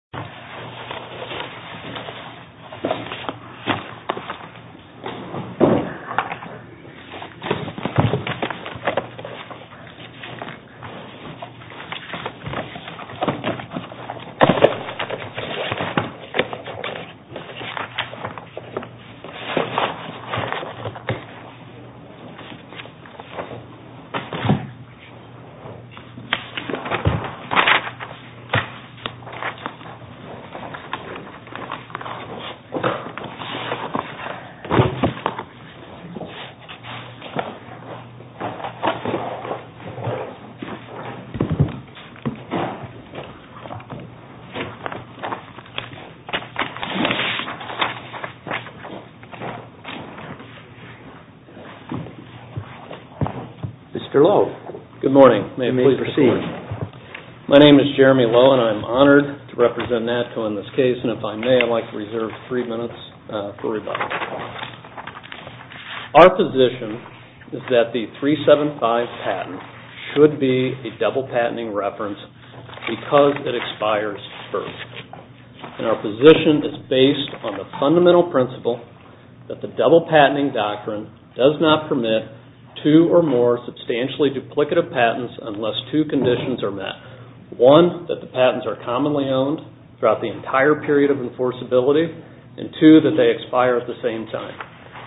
This video was made in Cooperation with the U.S. Department of Health and Human Services. This video was made in Cooperation with the U.S. Department of Health and Human Services. Our position is that the 375 patent should be a double patenting reference because it expires first. Our position is based on the fundamental principle that the double patenting doctrine does not permit two or more substantially duplicative patents unless two conditions are met. One, that the patents are commonly owned throughout the entire period of enforceability. Two, that they expire at the same time.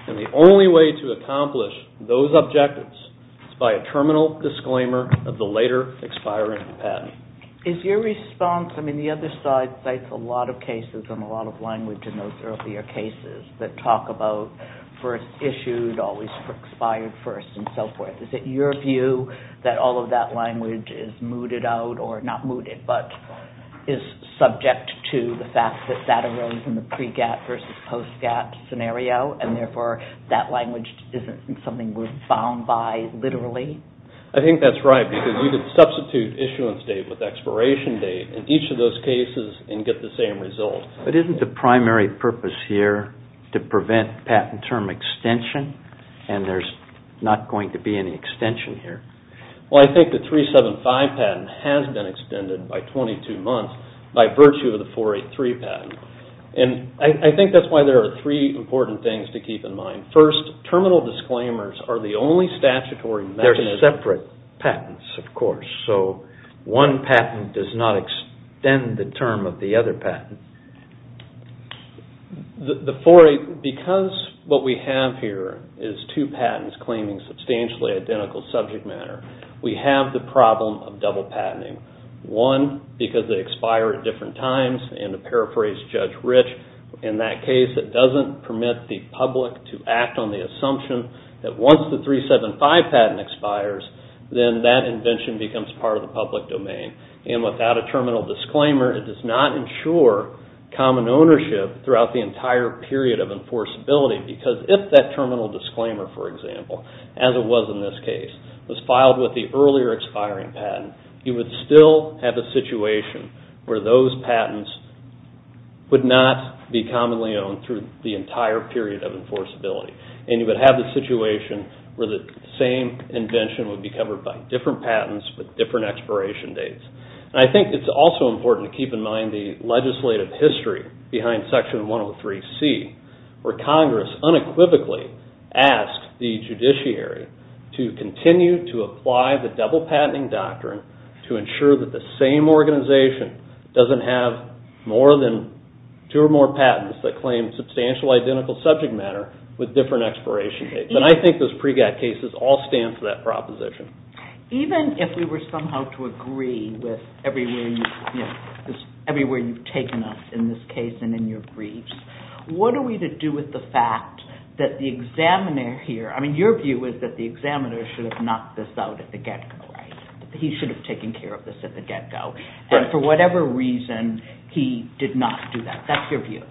The only way to accomplish those objectives is by a terminal disclaimer of the later expiring patent. Is your response, I mean the other side cites a lot of cases and a lot of language in those earlier cases that talk about first issued, always expired first, and so forth. Is it your view that all of that language is mooted out, or not mooted, but is subject to the fact that that arose in the pre-GATT versus post-GATT scenario, and therefore that language isn't something we're bound by literally? I think that's right because you could substitute issuance date with expiration date in each of those cases and get the same result. But isn't the primary purpose here to prevent patent term extension, and there's not going to be any extension here? Well, I think the 375 patent has been extended by 22 months by virtue of the 483 patent. And I think that's why there are three important things to keep in mind. First, terminal disclaimers are the only statutory mechanism. They're separate patents, of course, so one patent does not extend the term of the other patent. Because what we have here is two patents claiming substantially identical subject matter, we have the problem of double patenting. One, because they expire at different times, and to paraphrase Judge Rich, in that case it doesn't permit the public to act on the assumption that once the 375 patent expires, then that invention becomes part of the public domain. And without a terminal disclaimer, it does not ensure common ownership throughout the entire period of enforceability, because if that terminal disclaimer, for example, as it was in this case, was filed with the earlier expiring patent, you would still have a situation where those patents would not be commonly owned through the entire period of enforceability. And you would have the situation where the same invention would be covered by different patents with different expiration dates. And I think it's also important to keep in mind the legislative history behind Section 103C, where Congress unequivocally asked the judiciary to continue to apply the double patenting doctrine to ensure that the same organization doesn't have two or more patents that claim substantial identical subject matter with different expiration dates. And I think those PREGAD cases all stand for that proposition. Even if we were somehow to agree with everywhere you've taken us in this case and in your briefs, what are we to do with the fact that the examiner here – I mean, your view is that the examiner should have knocked this out at the get-go, right? He should have taken care of this at the get-go. And for whatever reason, he did not do that. That's your view.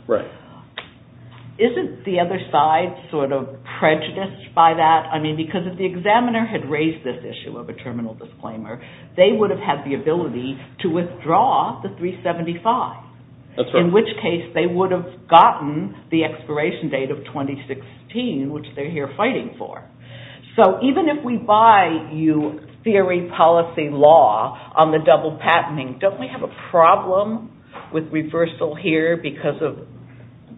Isn't the other side sort of prejudiced by that? I mean, because if the examiner had raised this issue of a terminal disclaimer, they would have had the ability to withdraw the 375, in which case they would have gotten the expiration date of 2016, which they're here fighting for. So even if we buy you theory, policy, law on the double patenting, don't we have a problem with reversal here because of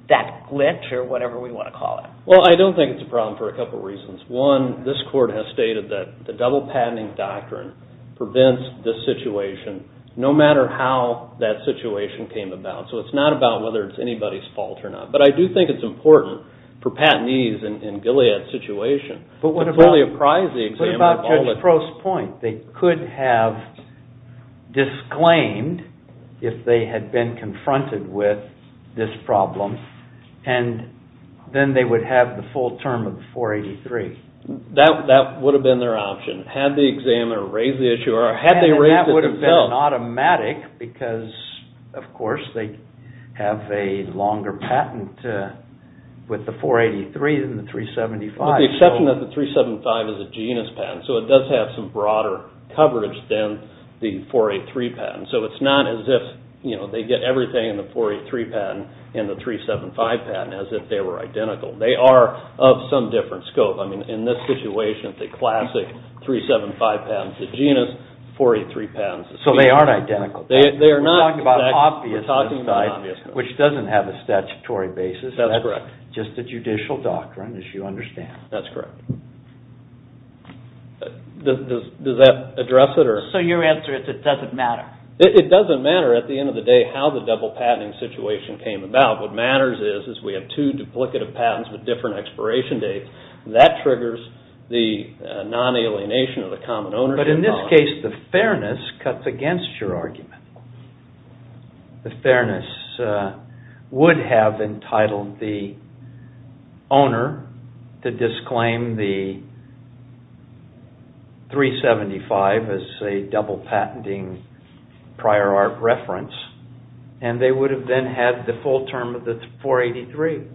that glitch or whatever we want to call it? Well, I don't think it's a problem for a couple reasons. One, this Court has stated that the double patenting doctrine prevents this situation no matter how that situation came about. So it's not about whether it's anybody's fault or not. But I do think it's important for patentees in Gilead's situation. But what about Judge Crow's point? They could have disclaimed if they had been confronted with this problem, and then they would have the full term of the 483. That would have been their option. Had the examiner raised the issue or had they raised it themselves. And that would have been automatic because, of course, they have a longer patent with the 483 than the 375. With the exception that the 375 is a genus patent. So it does have some broader coverage than the 483 patent. So it's not as if they get everything in the 483 patent and the 375 patent as if they were identical. They are of some different scope. I mean, in this situation, the classic 375 patent's a genus, 483 patent's a species. So they aren't identical. We're talking about an obvious one, which doesn't have a statutory basis. That's correct. Just a judicial doctrine, as you understand. That's correct. Does that address it? So your answer is it doesn't matter? It doesn't matter at the end of the day how the double patenting situation came about. What matters is we have two duplicative patents with different expiration dates. That triggers the non-alienation of the common ownership bond. But in this case, the fairness cuts against your argument. The fairness would have entitled the owner to disclaim the 375 as a double patenting prior art reference. And they would have then had the full term of the 483.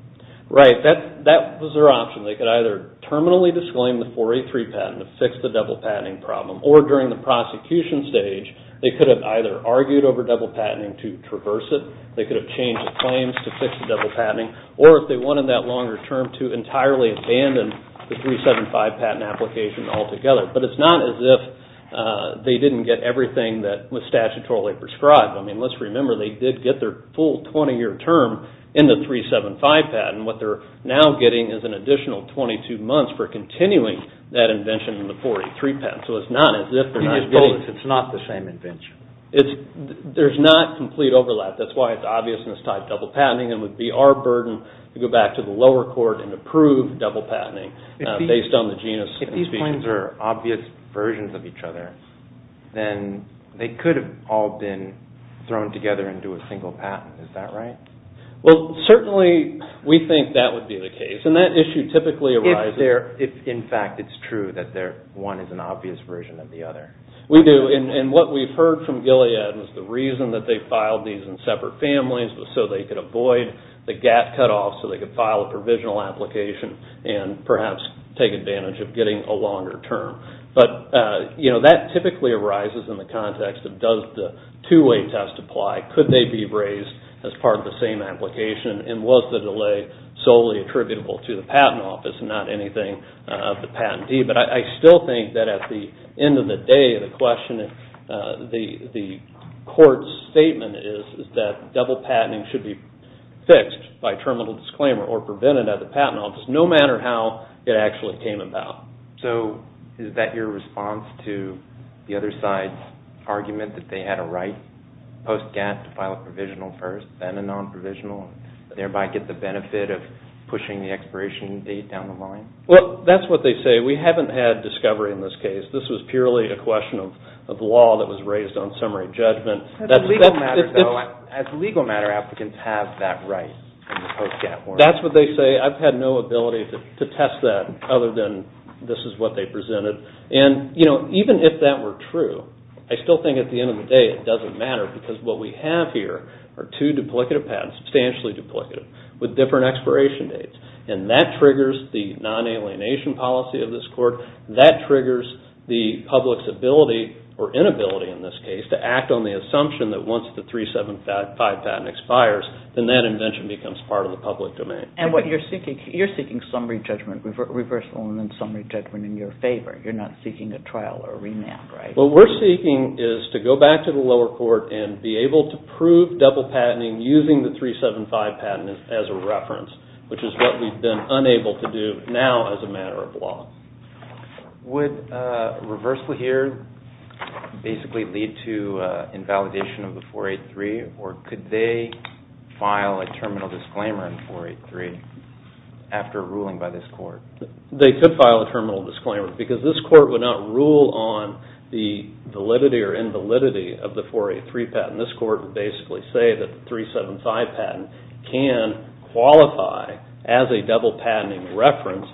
Right. That was their option. They could either terminally disclaim the 483 patent to fix the double patenting problem, or during the prosecution stage, they could have either argued over double patenting to traverse it, they could have changed the claims to fix the double patenting, or if they wanted that longer term to entirely abandon the 375 patent application altogether. But it's not as if they didn't get everything that was statutorily prescribed. I mean, let's remember they did get their full 20-year term in the 375 patent. What they're now getting is an additional 22 months for continuing that invention in the 483 patent. So it's not as if they're not getting... It's not the same invention. There's not complete overlap. That's why it's obvious in this type of double patenting. It would be our burden to go back to the lower court and approve double patenting based on the genus. If these claims are obvious versions of each other, then they could have all been thrown together into a single patent. Is that right? Well, certainly we think that would be the case. And that issue typically arises... if, in fact, it's true that one is an obvious version of the other. We do. And what we've heard from Gilead is the reason that they filed these in separate families was so they could avoid the gap cutoff, so they could file a provisional application and perhaps take advantage of getting a longer term. But that typically arises in the context of does the two-way test apply? Could they be raised as part of the same application? And was the delay solely attributable to the patent office and not anything of the patentee? But I still think that at the end of the day, the court's statement is that double patenting should be fixed by terminal disclaimer or prevented at the patent office, no matter how it actually came about. So is that your response to the other side's argument that they had a right post-gap to file a provisional first, then a non-provisional, thereby get the benefit of pushing the expiration date down the line? Well, that's what they say. We haven't had discovery in this case. This was purely a question of law that was raised on summary judgment. As legal matter applicants have that right in the post-gap world. That's what they say. I've had no ability to test that other than this is what they presented. And even if that were true, I still think at the end of the day it doesn't matter because what we have here are two duplicative patents, substantially duplicative, with different expiration dates. And that triggers the non-alienation policy of this court. That triggers the public's ability or inability in this case to act on the assumption that once the 375 patent expires, then that invention becomes part of the public domain. And what you're seeking, you're seeking summary judgment reversal and then summary judgment in your favor. You're not seeking a trial or a remand, right? What we're seeking is to go back to the lower court and be able to prove double patenting using the 375 patent as a reference, which is what we've been unable to do now as a matter of law. Would reversal here basically lead to invalidation of the 483? Or could they file a terminal disclaimer in 483 after a ruling by this court? They could file a terminal disclaimer because this court would not rule on the validity or invalidity of the 483 patent. This court would basically say that the 375 patent can qualify as a double patenting reference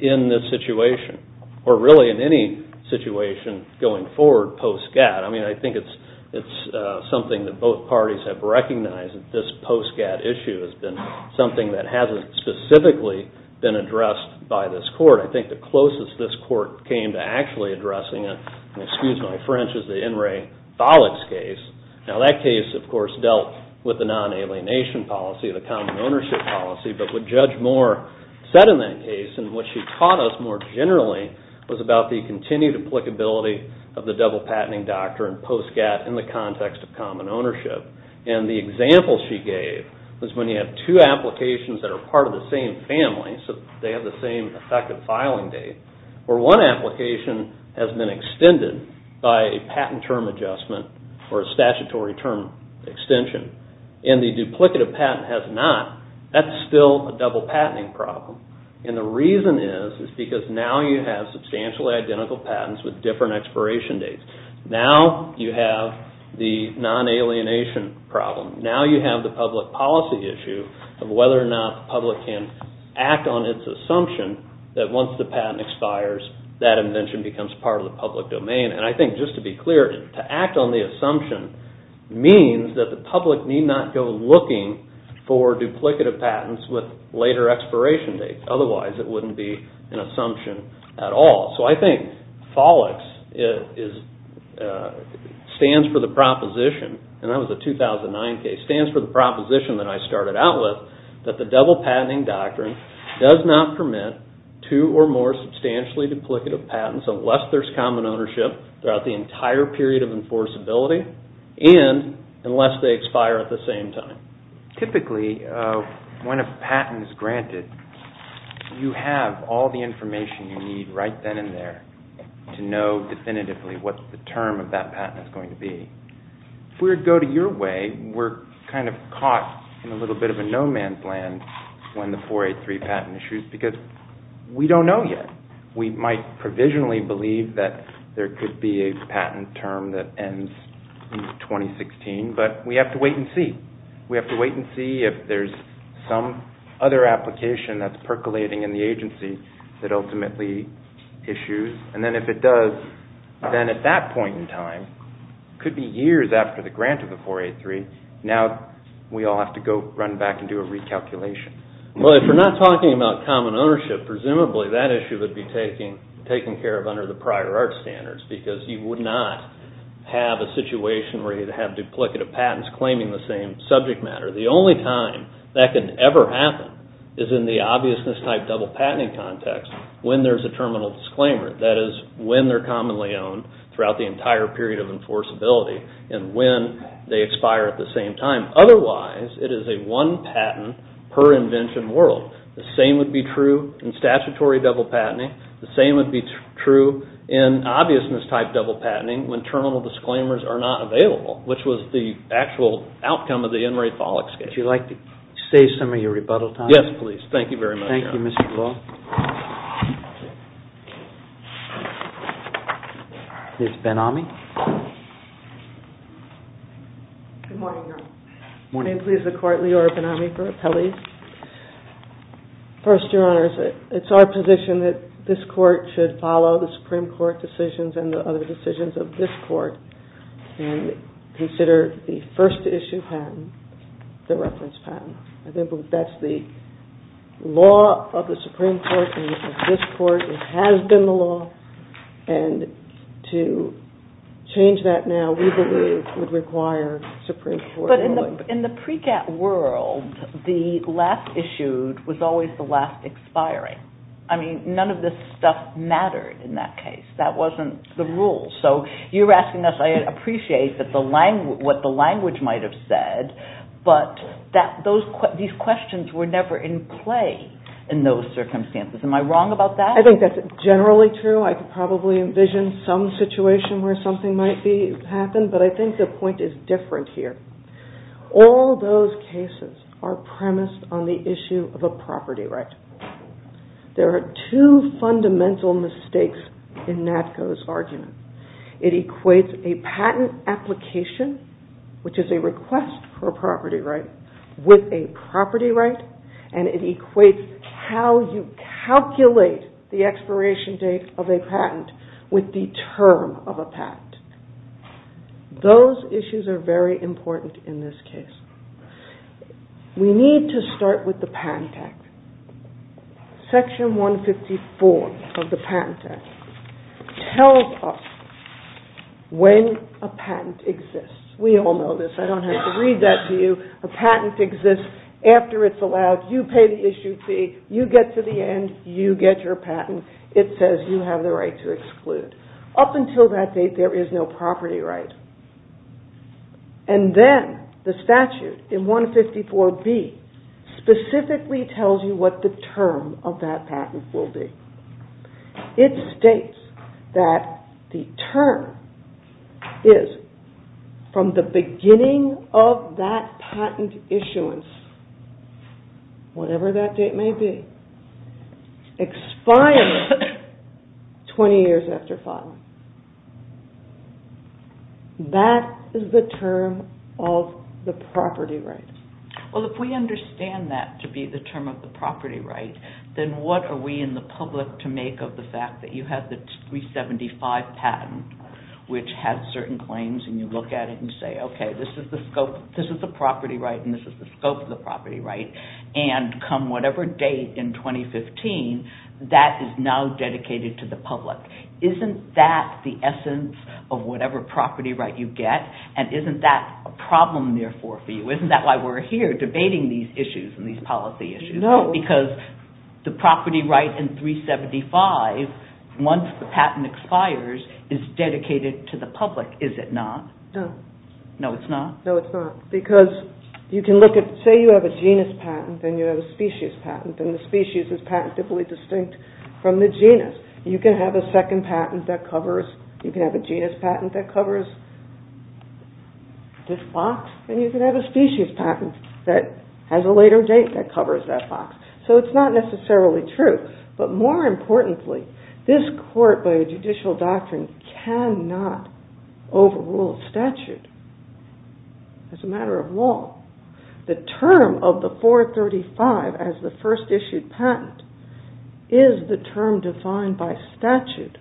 in this situation or really in any situation going forward post-GATT. I mean, I think it's something that both parties have recognized that this post-GATT issue has been something that hasn't specifically been addressed by this court. I think the closest this court came to actually addressing it, and excuse my French, is the In re Valix case. Now that case, of course, dealt with the non-alienation policy, the common ownership policy, but what Judge Moore said in that case and what she taught us more generally was about the continued applicability of the double patenting doctrine post-GATT in the context of common ownership. And the example she gave was when you have two applications that are part of the same family, so they have the same effective filing date, where one application has been extended by a patent term adjustment or a statutory term extension and the duplicative patent has not, that's still a double patenting problem. And the reason is because now you have substantially identical patents with different expiration dates. Now you have the non-alienation problem. Now you have the public policy issue of whether or not the public can act on its assumption that once the patent expires, that invention becomes part of the public domain. And I think, just to be clear, to act on the assumption means that the public need not go looking for duplicative patents with later expiration dates. Otherwise, it wouldn't be an assumption at all. So I think FOLIX stands for the proposition, and that was a 2009 case, stands for the proposition that I started out with that the double patenting doctrine does not permit two or more substantially duplicative patents unless there's common ownership throughout the entire period of enforceability and unless they expire at the same time. Typically, when a patent is granted, you have all the information you need right then and there to know definitively what the term of that patent is going to be. If we were to go to your way, we're kind of caught in a little bit of a no-man's land when the 483 patent issues, because we don't know yet. We might provisionally believe that there could be a patent term that ends in 2016, but we have to wait and see. We have to wait and see if there's some other application that's percolating in the agency that ultimately issues, and then if it does, then at that point in time, it could be years after the grant of the 483. Now we all have to go run back and do a recalculation. If we're not talking about common ownership, presumably that issue would be taken care of under the prior art standards because you would not have a situation where you'd have duplicative patents claiming the same subject matter. The only time that can ever happen is in the obviousness type double patenting context when there's a terminal disclaimer. That is when they're commonly owned throughout the entire period of enforceability and when they expire at the same time. Otherwise, it is a one patent per invention world. The same would be true in statutory double patenting. The same would be true in obviousness type double patenting when terminal disclaimers are not available, which was the actual outcome of the Enri Follix case. Would you like to save some of your rebuttal time? Yes, please. Thank you very much. Thank you, Mr. Law. Ms. Ben-Ami. Good morning, Your Honor. Good morning. May it please the Court, Leora Ben-Ami for appellees. First, Your Honor, it's our position that this Court should follow the Supreme Court decisions and the other decisions of this Court and consider the first issue patent the reference patent. I think that's the law of the Supreme Court and of this Court. It has been the law. And to change that now, we believe, would require Supreme Court ruling. But in the pre-cat world, the last issued was always the last expiring. I mean, none of this stuff mattered in that case. That wasn't the rule. So you're asking us, I appreciate what the language might have said, but these questions were never in play in those circumstances. Am I wrong about that? I think that's generally true. I could probably envision some situation where something might happen, but I think the point is different here. All those cases are premised on the issue of a property right. There are two fundamental mistakes in Natko's argument. It equates a patent application, which is a request for a property right, with a property right, and it equates how you calculate the expiration date of a patent with the term of a patent. Those issues are very important in this case. We need to start with the Patent Act. Section 154 of the Patent Act tells us when a patent exists. We all know this. I don't have to read that to you. A patent exists after it's allowed. You pay the issued fee. You get to the end. You get your patent. It says you have the right to exclude. Up until that date, there is no property right. Then the statute in 154B specifically tells you what the term of that patent will be. It states that the term is from the beginning of that patent issuance, whatever that date may be, expiring 20 years after filing. That is the term of the property right. If we understand that to be the term of the property right, then what are we in the public to make of the fact that you have the 375 patent, which has certain claims, and you look at it and say, okay, this is the scope. This is the property right, and this is the scope of the property right. Come whatever date in 2015, that is now dedicated to the public. Isn't that the essence of whatever property right you get, and isn't that a problem, therefore, for you? Isn't that why we're here debating these issues and these policy issues? No. Because the property right in 375, once the patent expires, is dedicated to the public, is it not? No. No, it's not? No, it's not. Because you can look at, say you have a genus patent, and you have a species patent, and the species is patently distinct from the genus. You can have a second patent that covers, you can have a genus patent that covers this box, and you can have a species patent that has a later date that covers that box. So it's not necessarily true. But more importantly, this court, by a judicial doctrine, cannot overrule a statute as a matter of law. The term of the 435 as the first issued patent is the term defined by statute.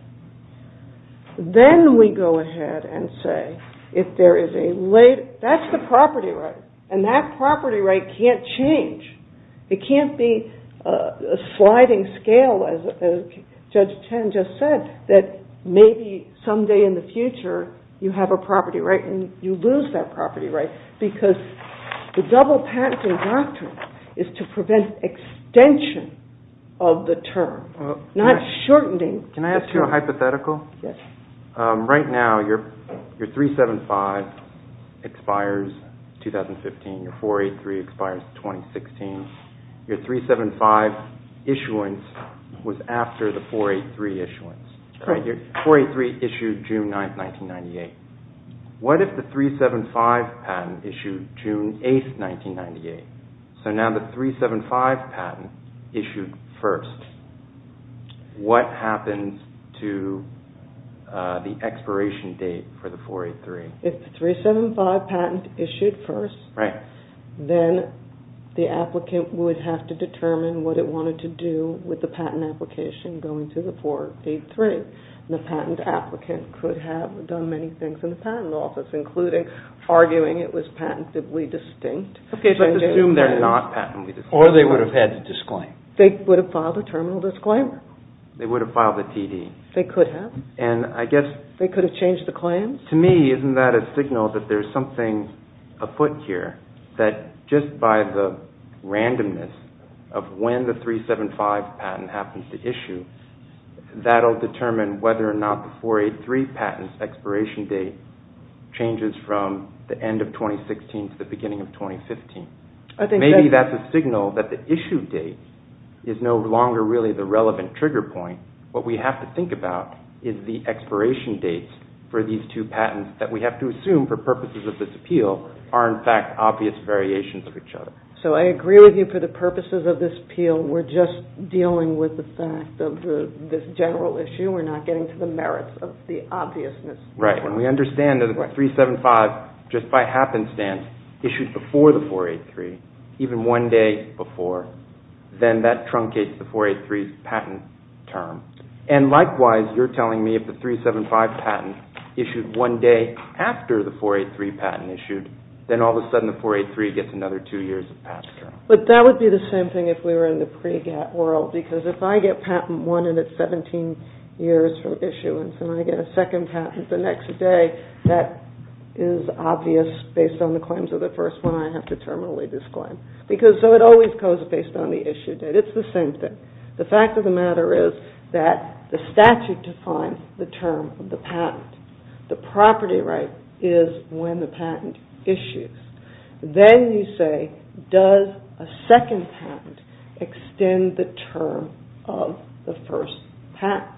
Then we go ahead and say if there is a later, that's the property right, and that property right can't change. It can't be a sliding scale, as Judge Chen just said, that maybe someday in the future you have a property right and you lose that property right. Because the double patenting doctrine is to prevent extension of the term, not shortening the term. Can I ask you a hypothetical? Yes. Right now your 375 expires 2015, your 483 expires 2016. Your 375 issuance was after the 483 issuance. Right. Your 483 issued June 9, 1998. What if the 375 patent issued June 8, 1998? So now the 375 patent issued first. What happens to the expiration date for the 483? If the 375 patent issued first, then the applicant would have to determine what it wanted to do with the patent application going to the 483. The patent applicant could have done many things in the patent office, including arguing it was patentably distinct. Okay, but assume they're not patently distinct. Or they would have had to disclaim. They would have filed a terminal disclaimer. They would have filed a TD. They could have. And I guess... They could have changed the claims. To me, isn't that a signal that there's something afoot here, that just by the randomness of when the 375 patent happens to issue, that'll determine whether or not the 483 patent's expiration date changes from the end of 2016 to the beginning of 2015? Maybe that's a signal that the issue date is no longer really the relevant trigger point. What we have to think about is the expiration dates for these two patents that we have to assume, for purposes of this appeal, are in fact obvious variations of each other. So I agree with you. For the purposes of this appeal, we're just dealing with the fact of this general issue. We're not getting to the merits of the obviousness. Right. When we understand that the 375, just by happenstance, issued before the 483, even one day before, then that truncates the 483 patent term. And likewise, you're telling me if the 375 patent issued one day after the 483 patent issued, then all of a sudden the 483 gets another two years of patent term. But that would be the same thing if we were in the pre-GATT world, because if I get patent one and it's 17 years from issuance and I get a second patent the next day, that is obvious based on the claims of the first one I have to terminally disclaim. So it always goes based on the issue date. It's the same thing. The fact of the matter is that the statute defines the term of the patent. The property right is when the patent issues. Then you say, does a second patent extend the term of the first patent?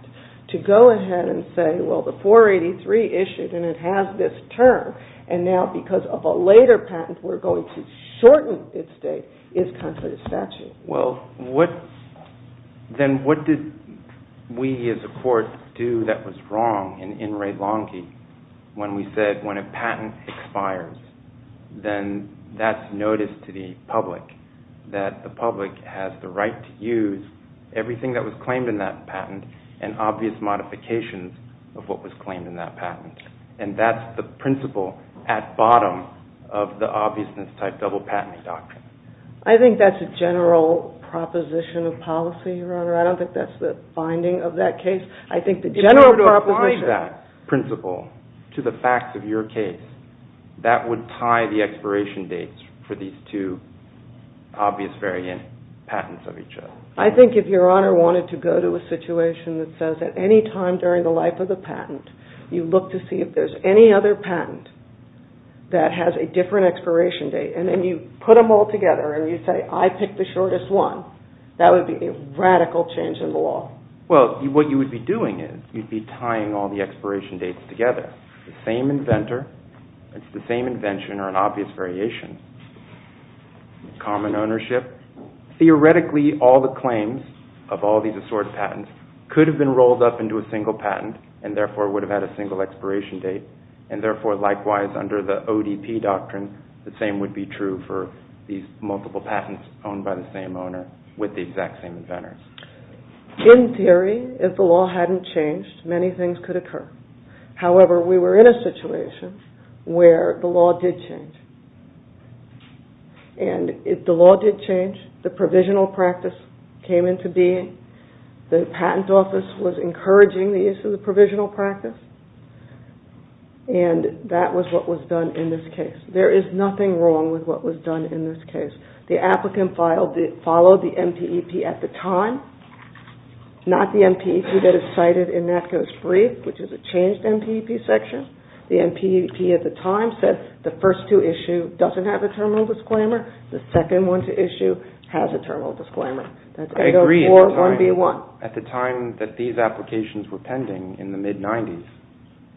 To go ahead and say, well, the 483 issued, and it has this term, and now because of a later patent we're going to shorten its date, is contrary to statute. Well, then what did we as a court do that was wrong in Wray-Lonky when we said when a patent expires, then that's notice to the public, that the public has the right to use everything that was claimed in that patent and obvious modifications of what was claimed in that patent. And that's the principle at bottom of the obviousness type double patenting doctrine. I think that's a general proposition of policy, Your Honor. I don't think that's the finding of that case. I think the general proposition. If you were to apply that principle to the facts of your case, that would tie the expiration dates for these two obvious variant patents of each other. I think if Your Honor wanted to go to a situation that says at any time during the life of the patent you look to see if there's any other patent that has a different expiration date, and then you put them all together and you say, I picked the shortest one, that would be a radical change in the law. Well, what you would be doing is you'd be tying all the expiration dates together. The same inventor, it's the same invention, or an obvious variation, common ownership. But theoretically all the claims of all these assorted patents could have been rolled up into a single patent and therefore would have had a single expiration date, and therefore likewise under the ODP doctrine the same would be true for these multiple patents owned by the same owner with the exact same inventor. In theory, if the law hadn't changed, many things could occur. However, we were in a situation where the law did change. And the law did change, the provisional practice came into being, the patent office was encouraging the use of the provisional practice, and that was what was done in this case. There is nothing wrong with what was done in this case. The applicant followed the MPEP at the time, not the MPEP that is cited in NACO's brief, which is a changed MPEP section. The MPEP at the time said the first to issue doesn't have a terminal disclaimer, the second one to issue has a terminal disclaimer. That's 804-1B1. I agree. At the time that these applications were pending, in the mid-90s,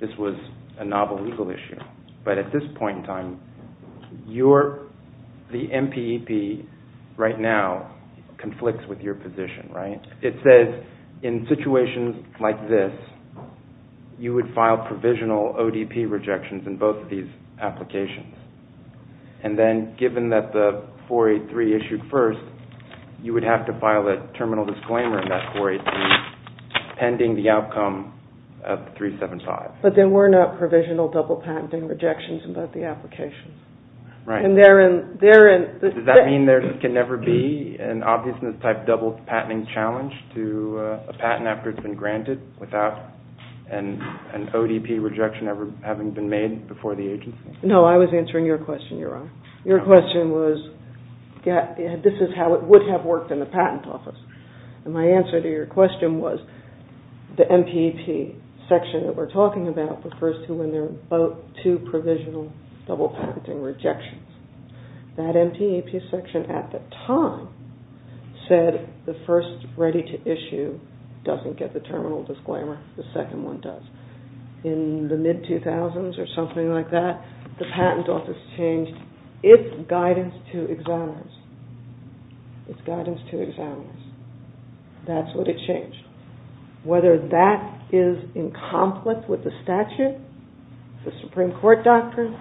this was a novel legal issue. But at this point in time, you're, the MPEP right now, conflicts with your position, right? It says in situations like this you would file provisional ODP rejections in both of these applications. And then, given that the 483 issued first, you would have to file a terminal disclaimer in that 483 pending the outcome of 375. But there were no provisional double-patenting rejections in both the applications. Right. Does that mean there can never be an obviousness-type double-patenting challenge to a patent after it's been granted without an ODP rejection ever having been made before the agency? No, I was answering your question, Your Honor. Your question was, this is how it would have worked in the patent office. And my answer to your question was, the MPEP section that we're talking about refers to when there are two provisional double-packeting rejections. That MPEP section at the time said the first ready-to-issue doesn't get the terminal disclaimer, the second one does. In the mid-2000s or something like that, the patent office changed its guidance to examiners. Its guidance to examiners. That's what it changed. Whether that is in conflict with the statute, the Supreme Court doctrine,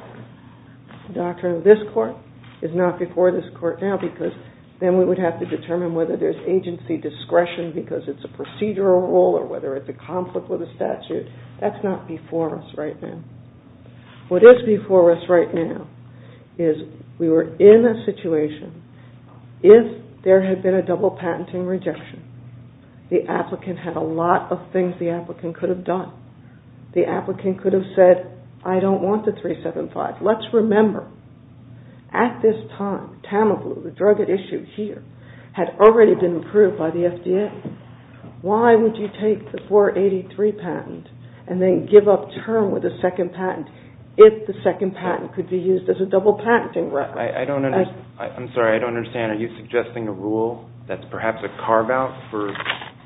the doctrine of this Court, is not before this Court now because then we would have to determine whether there's agency discretion because it's a procedural rule or whether it's a conflict with the statute. That's not before us right now. What is before us right now is we were in a situation, if there had been a double-patenting rejection, the applicant had a lot of things the applicant could have done. The applicant could have said, I don't want the 375. Let's remember, at this time, Tamoglu, the drug at issue here, had already been approved by the FDA. Why would you take the 483 patent and then give up term with the second patent if the second patent could be used as a double-patenting reference? I'm sorry, I don't understand. Are you suggesting a rule that's perhaps a carve-out for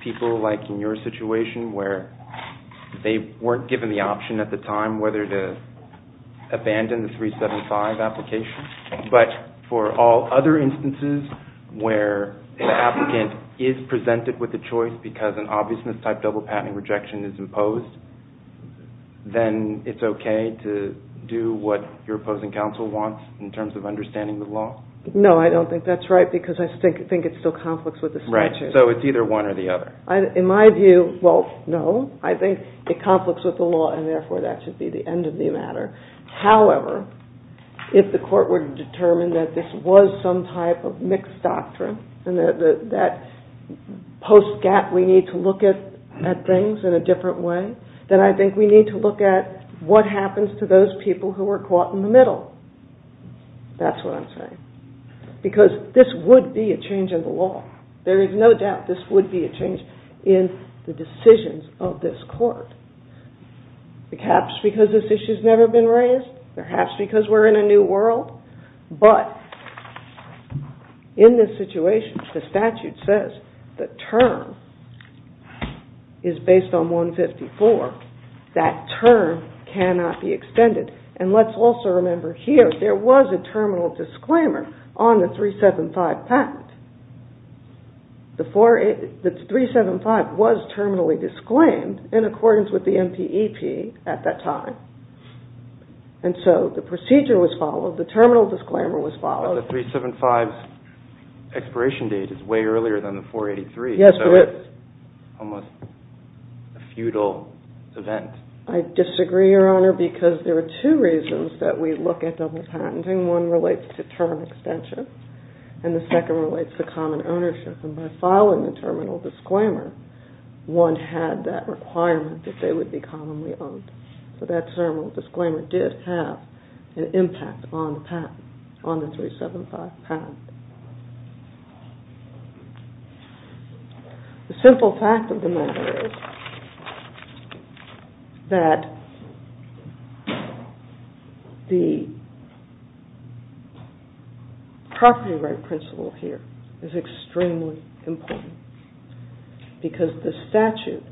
people like in your situation where they weren't given the option at the time whether to abandon the 375 application but for all other instances where an applicant is presented with a choice because an obviousness-type double-patenting rejection is imposed, then it's okay to do what your opposing counsel wants in terms of understanding the law? No, I don't think that's right because I think it's still conflicts with the statute. Right, so it's either one or the other. In my view, well, no. I think it conflicts with the law and therefore that should be the end of the matter. However, if the court were to determine that this was some type of mixed doctrine and that post-gap we need to look at things in a different way, then I think we need to look at what happens to those people who are caught in the middle. That's what I'm saying. Because this would be a change in the law. There is no doubt this would be a change in the decisions of this court. Perhaps because this issue has never been raised. Perhaps because we're in a new world. But in this situation, the statute says the term is based on 154. That term cannot be extended. And let's also remember here there was a terminal disclaimer on the 375 patent. The 375 was terminally disclaimed in accordance with the MPEP at that time. And so the procedure was followed. The terminal disclaimer was followed. But the 375's expiration date is way earlier than the 483. Yes, it is. So it's almost a futile event. I disagree, Your Honor, because there are two reasons that we look at double patenting. One relates to term extension and the second relates to common ownership. And by following the terminal disclaimer, one had that requirement that they would be commonly owned. So that terminal disclaimer did have an impact on the patent, on the 375 patent. The simple fact of the matter is that the property right principle here is extremely important. Because the statute,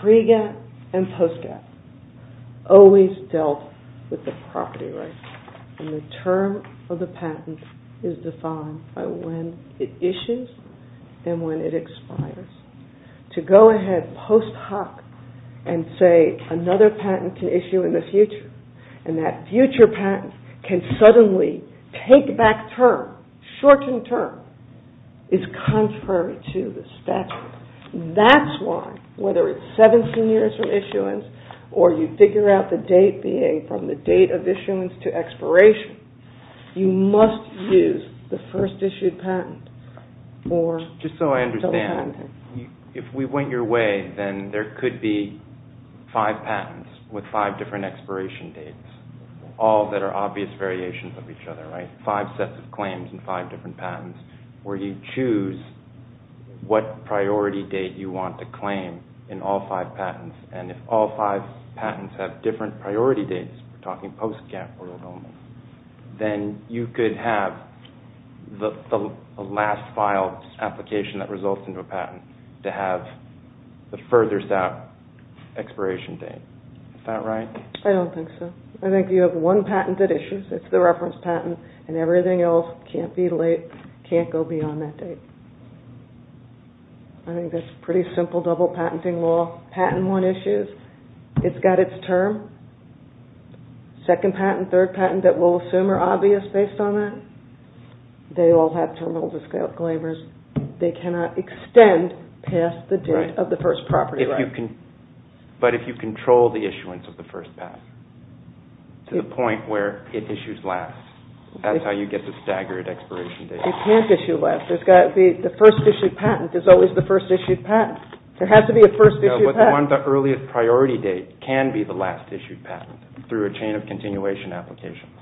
pre-gap and post-gap, always dealt with the property right. And the term of the patent is defined by when it issues and when it expires. To go ahead post hoc and say another patent can issue in the future and that future patent can suddenly take back term, shorten term, is contrary to the statute. That's why, whether it's 17 years from issuance or you figure out the date being from the date of issuance to expiration, you must use the first issued patent for double patenting. Just so I understand, if we went your way, then there could be five patents with five different expiration dates, all that are obvious variations of each other, right? You have five sets of claims and five different patents where you choose what priority date you want to claim in all five patents. And if all five patents have different priority dates, we're talking post-gap, then you could have the last filed application that results into a patent to have the furthest out expiration date. Is that right? I don't think so. I think you have one patent that issues. It's the reference patent. And everything else can't be late, can't go beyond that date. I think that's pretty simple double patenting law. Patent one issues. It's got its term. Second patent, third patent, that we'll assume are obvious based on that. They all have terminals of scale claimers. They cannot extend past the date of the first property right. But if you control the issuance of the first patent to the point where it issues last, that's how you get the staggered expiration date. It can't issue last. The first issued patent is always the first issued patent. There has to be a first issued patent. No, but the earliest priority date can be the last issued patent through a chain of continuation applications.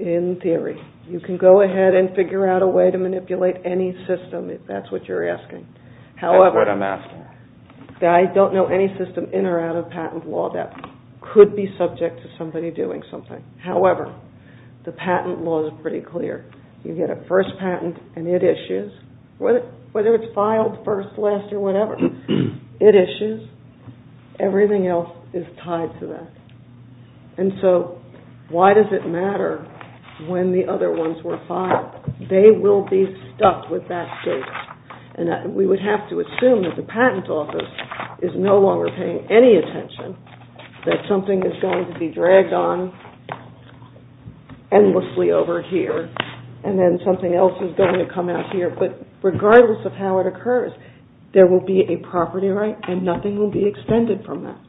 In theory. You can go ahead and figure out a way to manipulate any system if that's what you're asking. That's what I'm asking. I don't know any system in or out of patent law that could be subject to somebody doing something. However, the patent law is pretty clear. You get a first patent and it issues. Whether it's filed first, last, or whatever, it issues. Everything else is tied to that. And so why does it matter when the other ones were filed? They will be stuck with that date. And we would have to assume that the patent office is no longer paying any attention. That something is going to be dragged on endlessly over here. And then something else is going to come out here. But regardless of how it occurs, there will be a property right and nothing will be extended from that.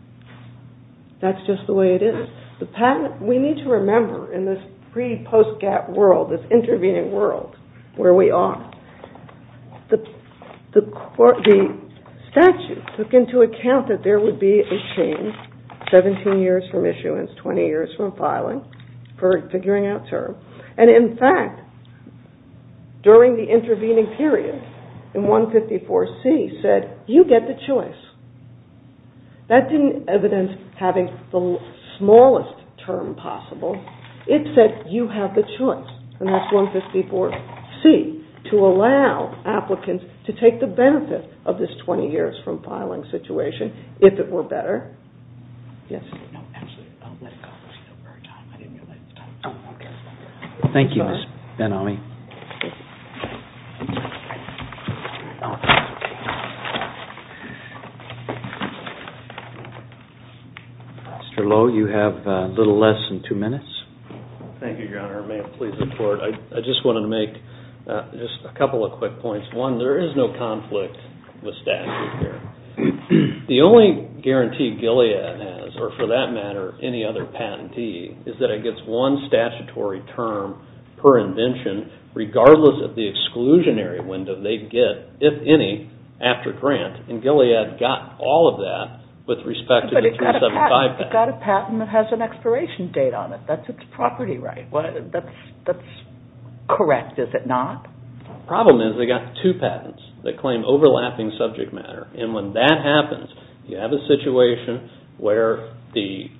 That's just the way it is. The patent, we need to remember in this pre-post-gap world, this intervening world, where we are. The statute took into account that there would be a change 17 years from issuance, 20 years from filing for figuring out term. And in fact, during the intervening period, in 154C, said, you get the choice. That didn't evidence having the smallest term possible. It said, you have the choice. And that's 154C. To allow applicants to take the benefit of this 20 years from filing situation, if it were better. Thank you, Ms. Ben-Ami. Mr. Lowe, you have a little less than two minutes. May it please the Court. I just wanted to make a couple of quick points. One, there is no conflict with statute here. The only guarantee Gilead has, or for that matter, any other patentee, is that it gets one statutory term per invention, regardless of the exclusionary window they get, if any, after grant. And Gilead got all of that with respect to the 275 patent. But it got a patent that has an expiration date on it. That's its property right. That's correct, is it not? The problem is, they got two patents that claim overlapping subject matter. And when that happens, you have a situation where the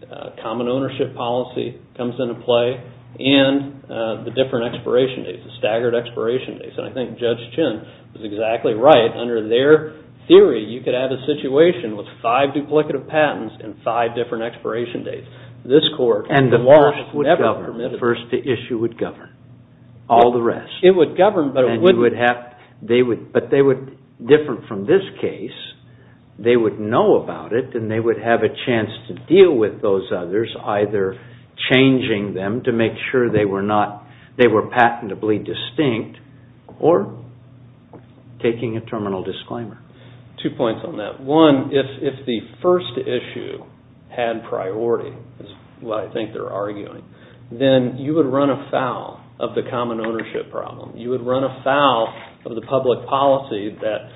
common ownership policy comes into play and the different expiration dates, the staggered expiration dates. And I think Judge Chin was exactly right. Under their theory, you could have a situation with five duplicative patents and five different expiration dates. And the first would govern. The first issue would govern. All the rest. It would govern, but it wouldn't... But different from this case, they would know about it and they would have a chance to deal with those others, either changing them to make sure they were patentably distinct, or taking a terminal disclaimer. Two points on that. One, if the first issue had priority, is what I think they're arguing, then you would run afoul of the common ownership problem. You would run afoul of the public policy that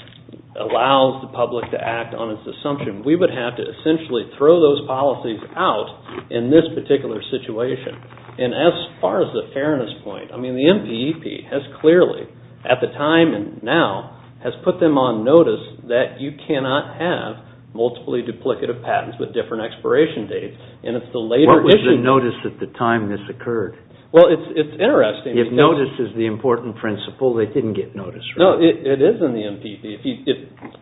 allows the public to act on its assumption. We would have to essentially throw those policies out in this particular situation. And as far as the fairness point, I mean, the MPEP has clearly, at the time and now, has put them on notice that you cannot have multiply duplicative patents with different expiration dates. And it's the later issue... What was the notice at the time this occurred? Well, it's interesting. If notice is the important principle, they didn't get notice, right? No, it is in the MPEP.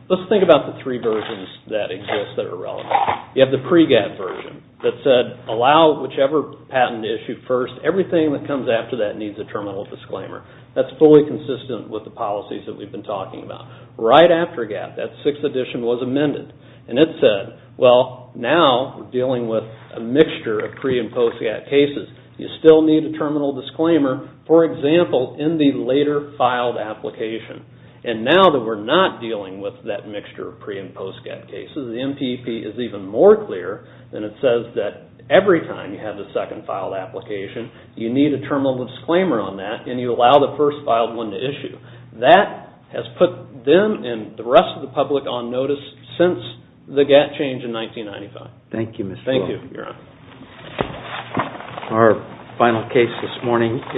Let's think about the three versions that exist that are relevant. You have the pre-GAAP version that said allow whichever patent issue first. Everything that comes after that needs a terminal disclaimer. That's fully consistent with the policies that we've been talking about. Right after GAAP, that sixth edition was amended. And it said, well, now we're dealing with a mixture of pre- and post-GAAP cases. You still need a terminal disclaimer, for example, in the later filed application. And now that we're not dealing with that mixture of pre- and post-GAAP cases, the MPEP is even more clear than it says that every time you have the second filed application, you need a terminal disclaimer on that and you allow the first filed one to issue. That has put them and the rest of the public on notice since the GAAP change in 1995. Thank you, Mr. O'Connor. Thank you, Your Honor.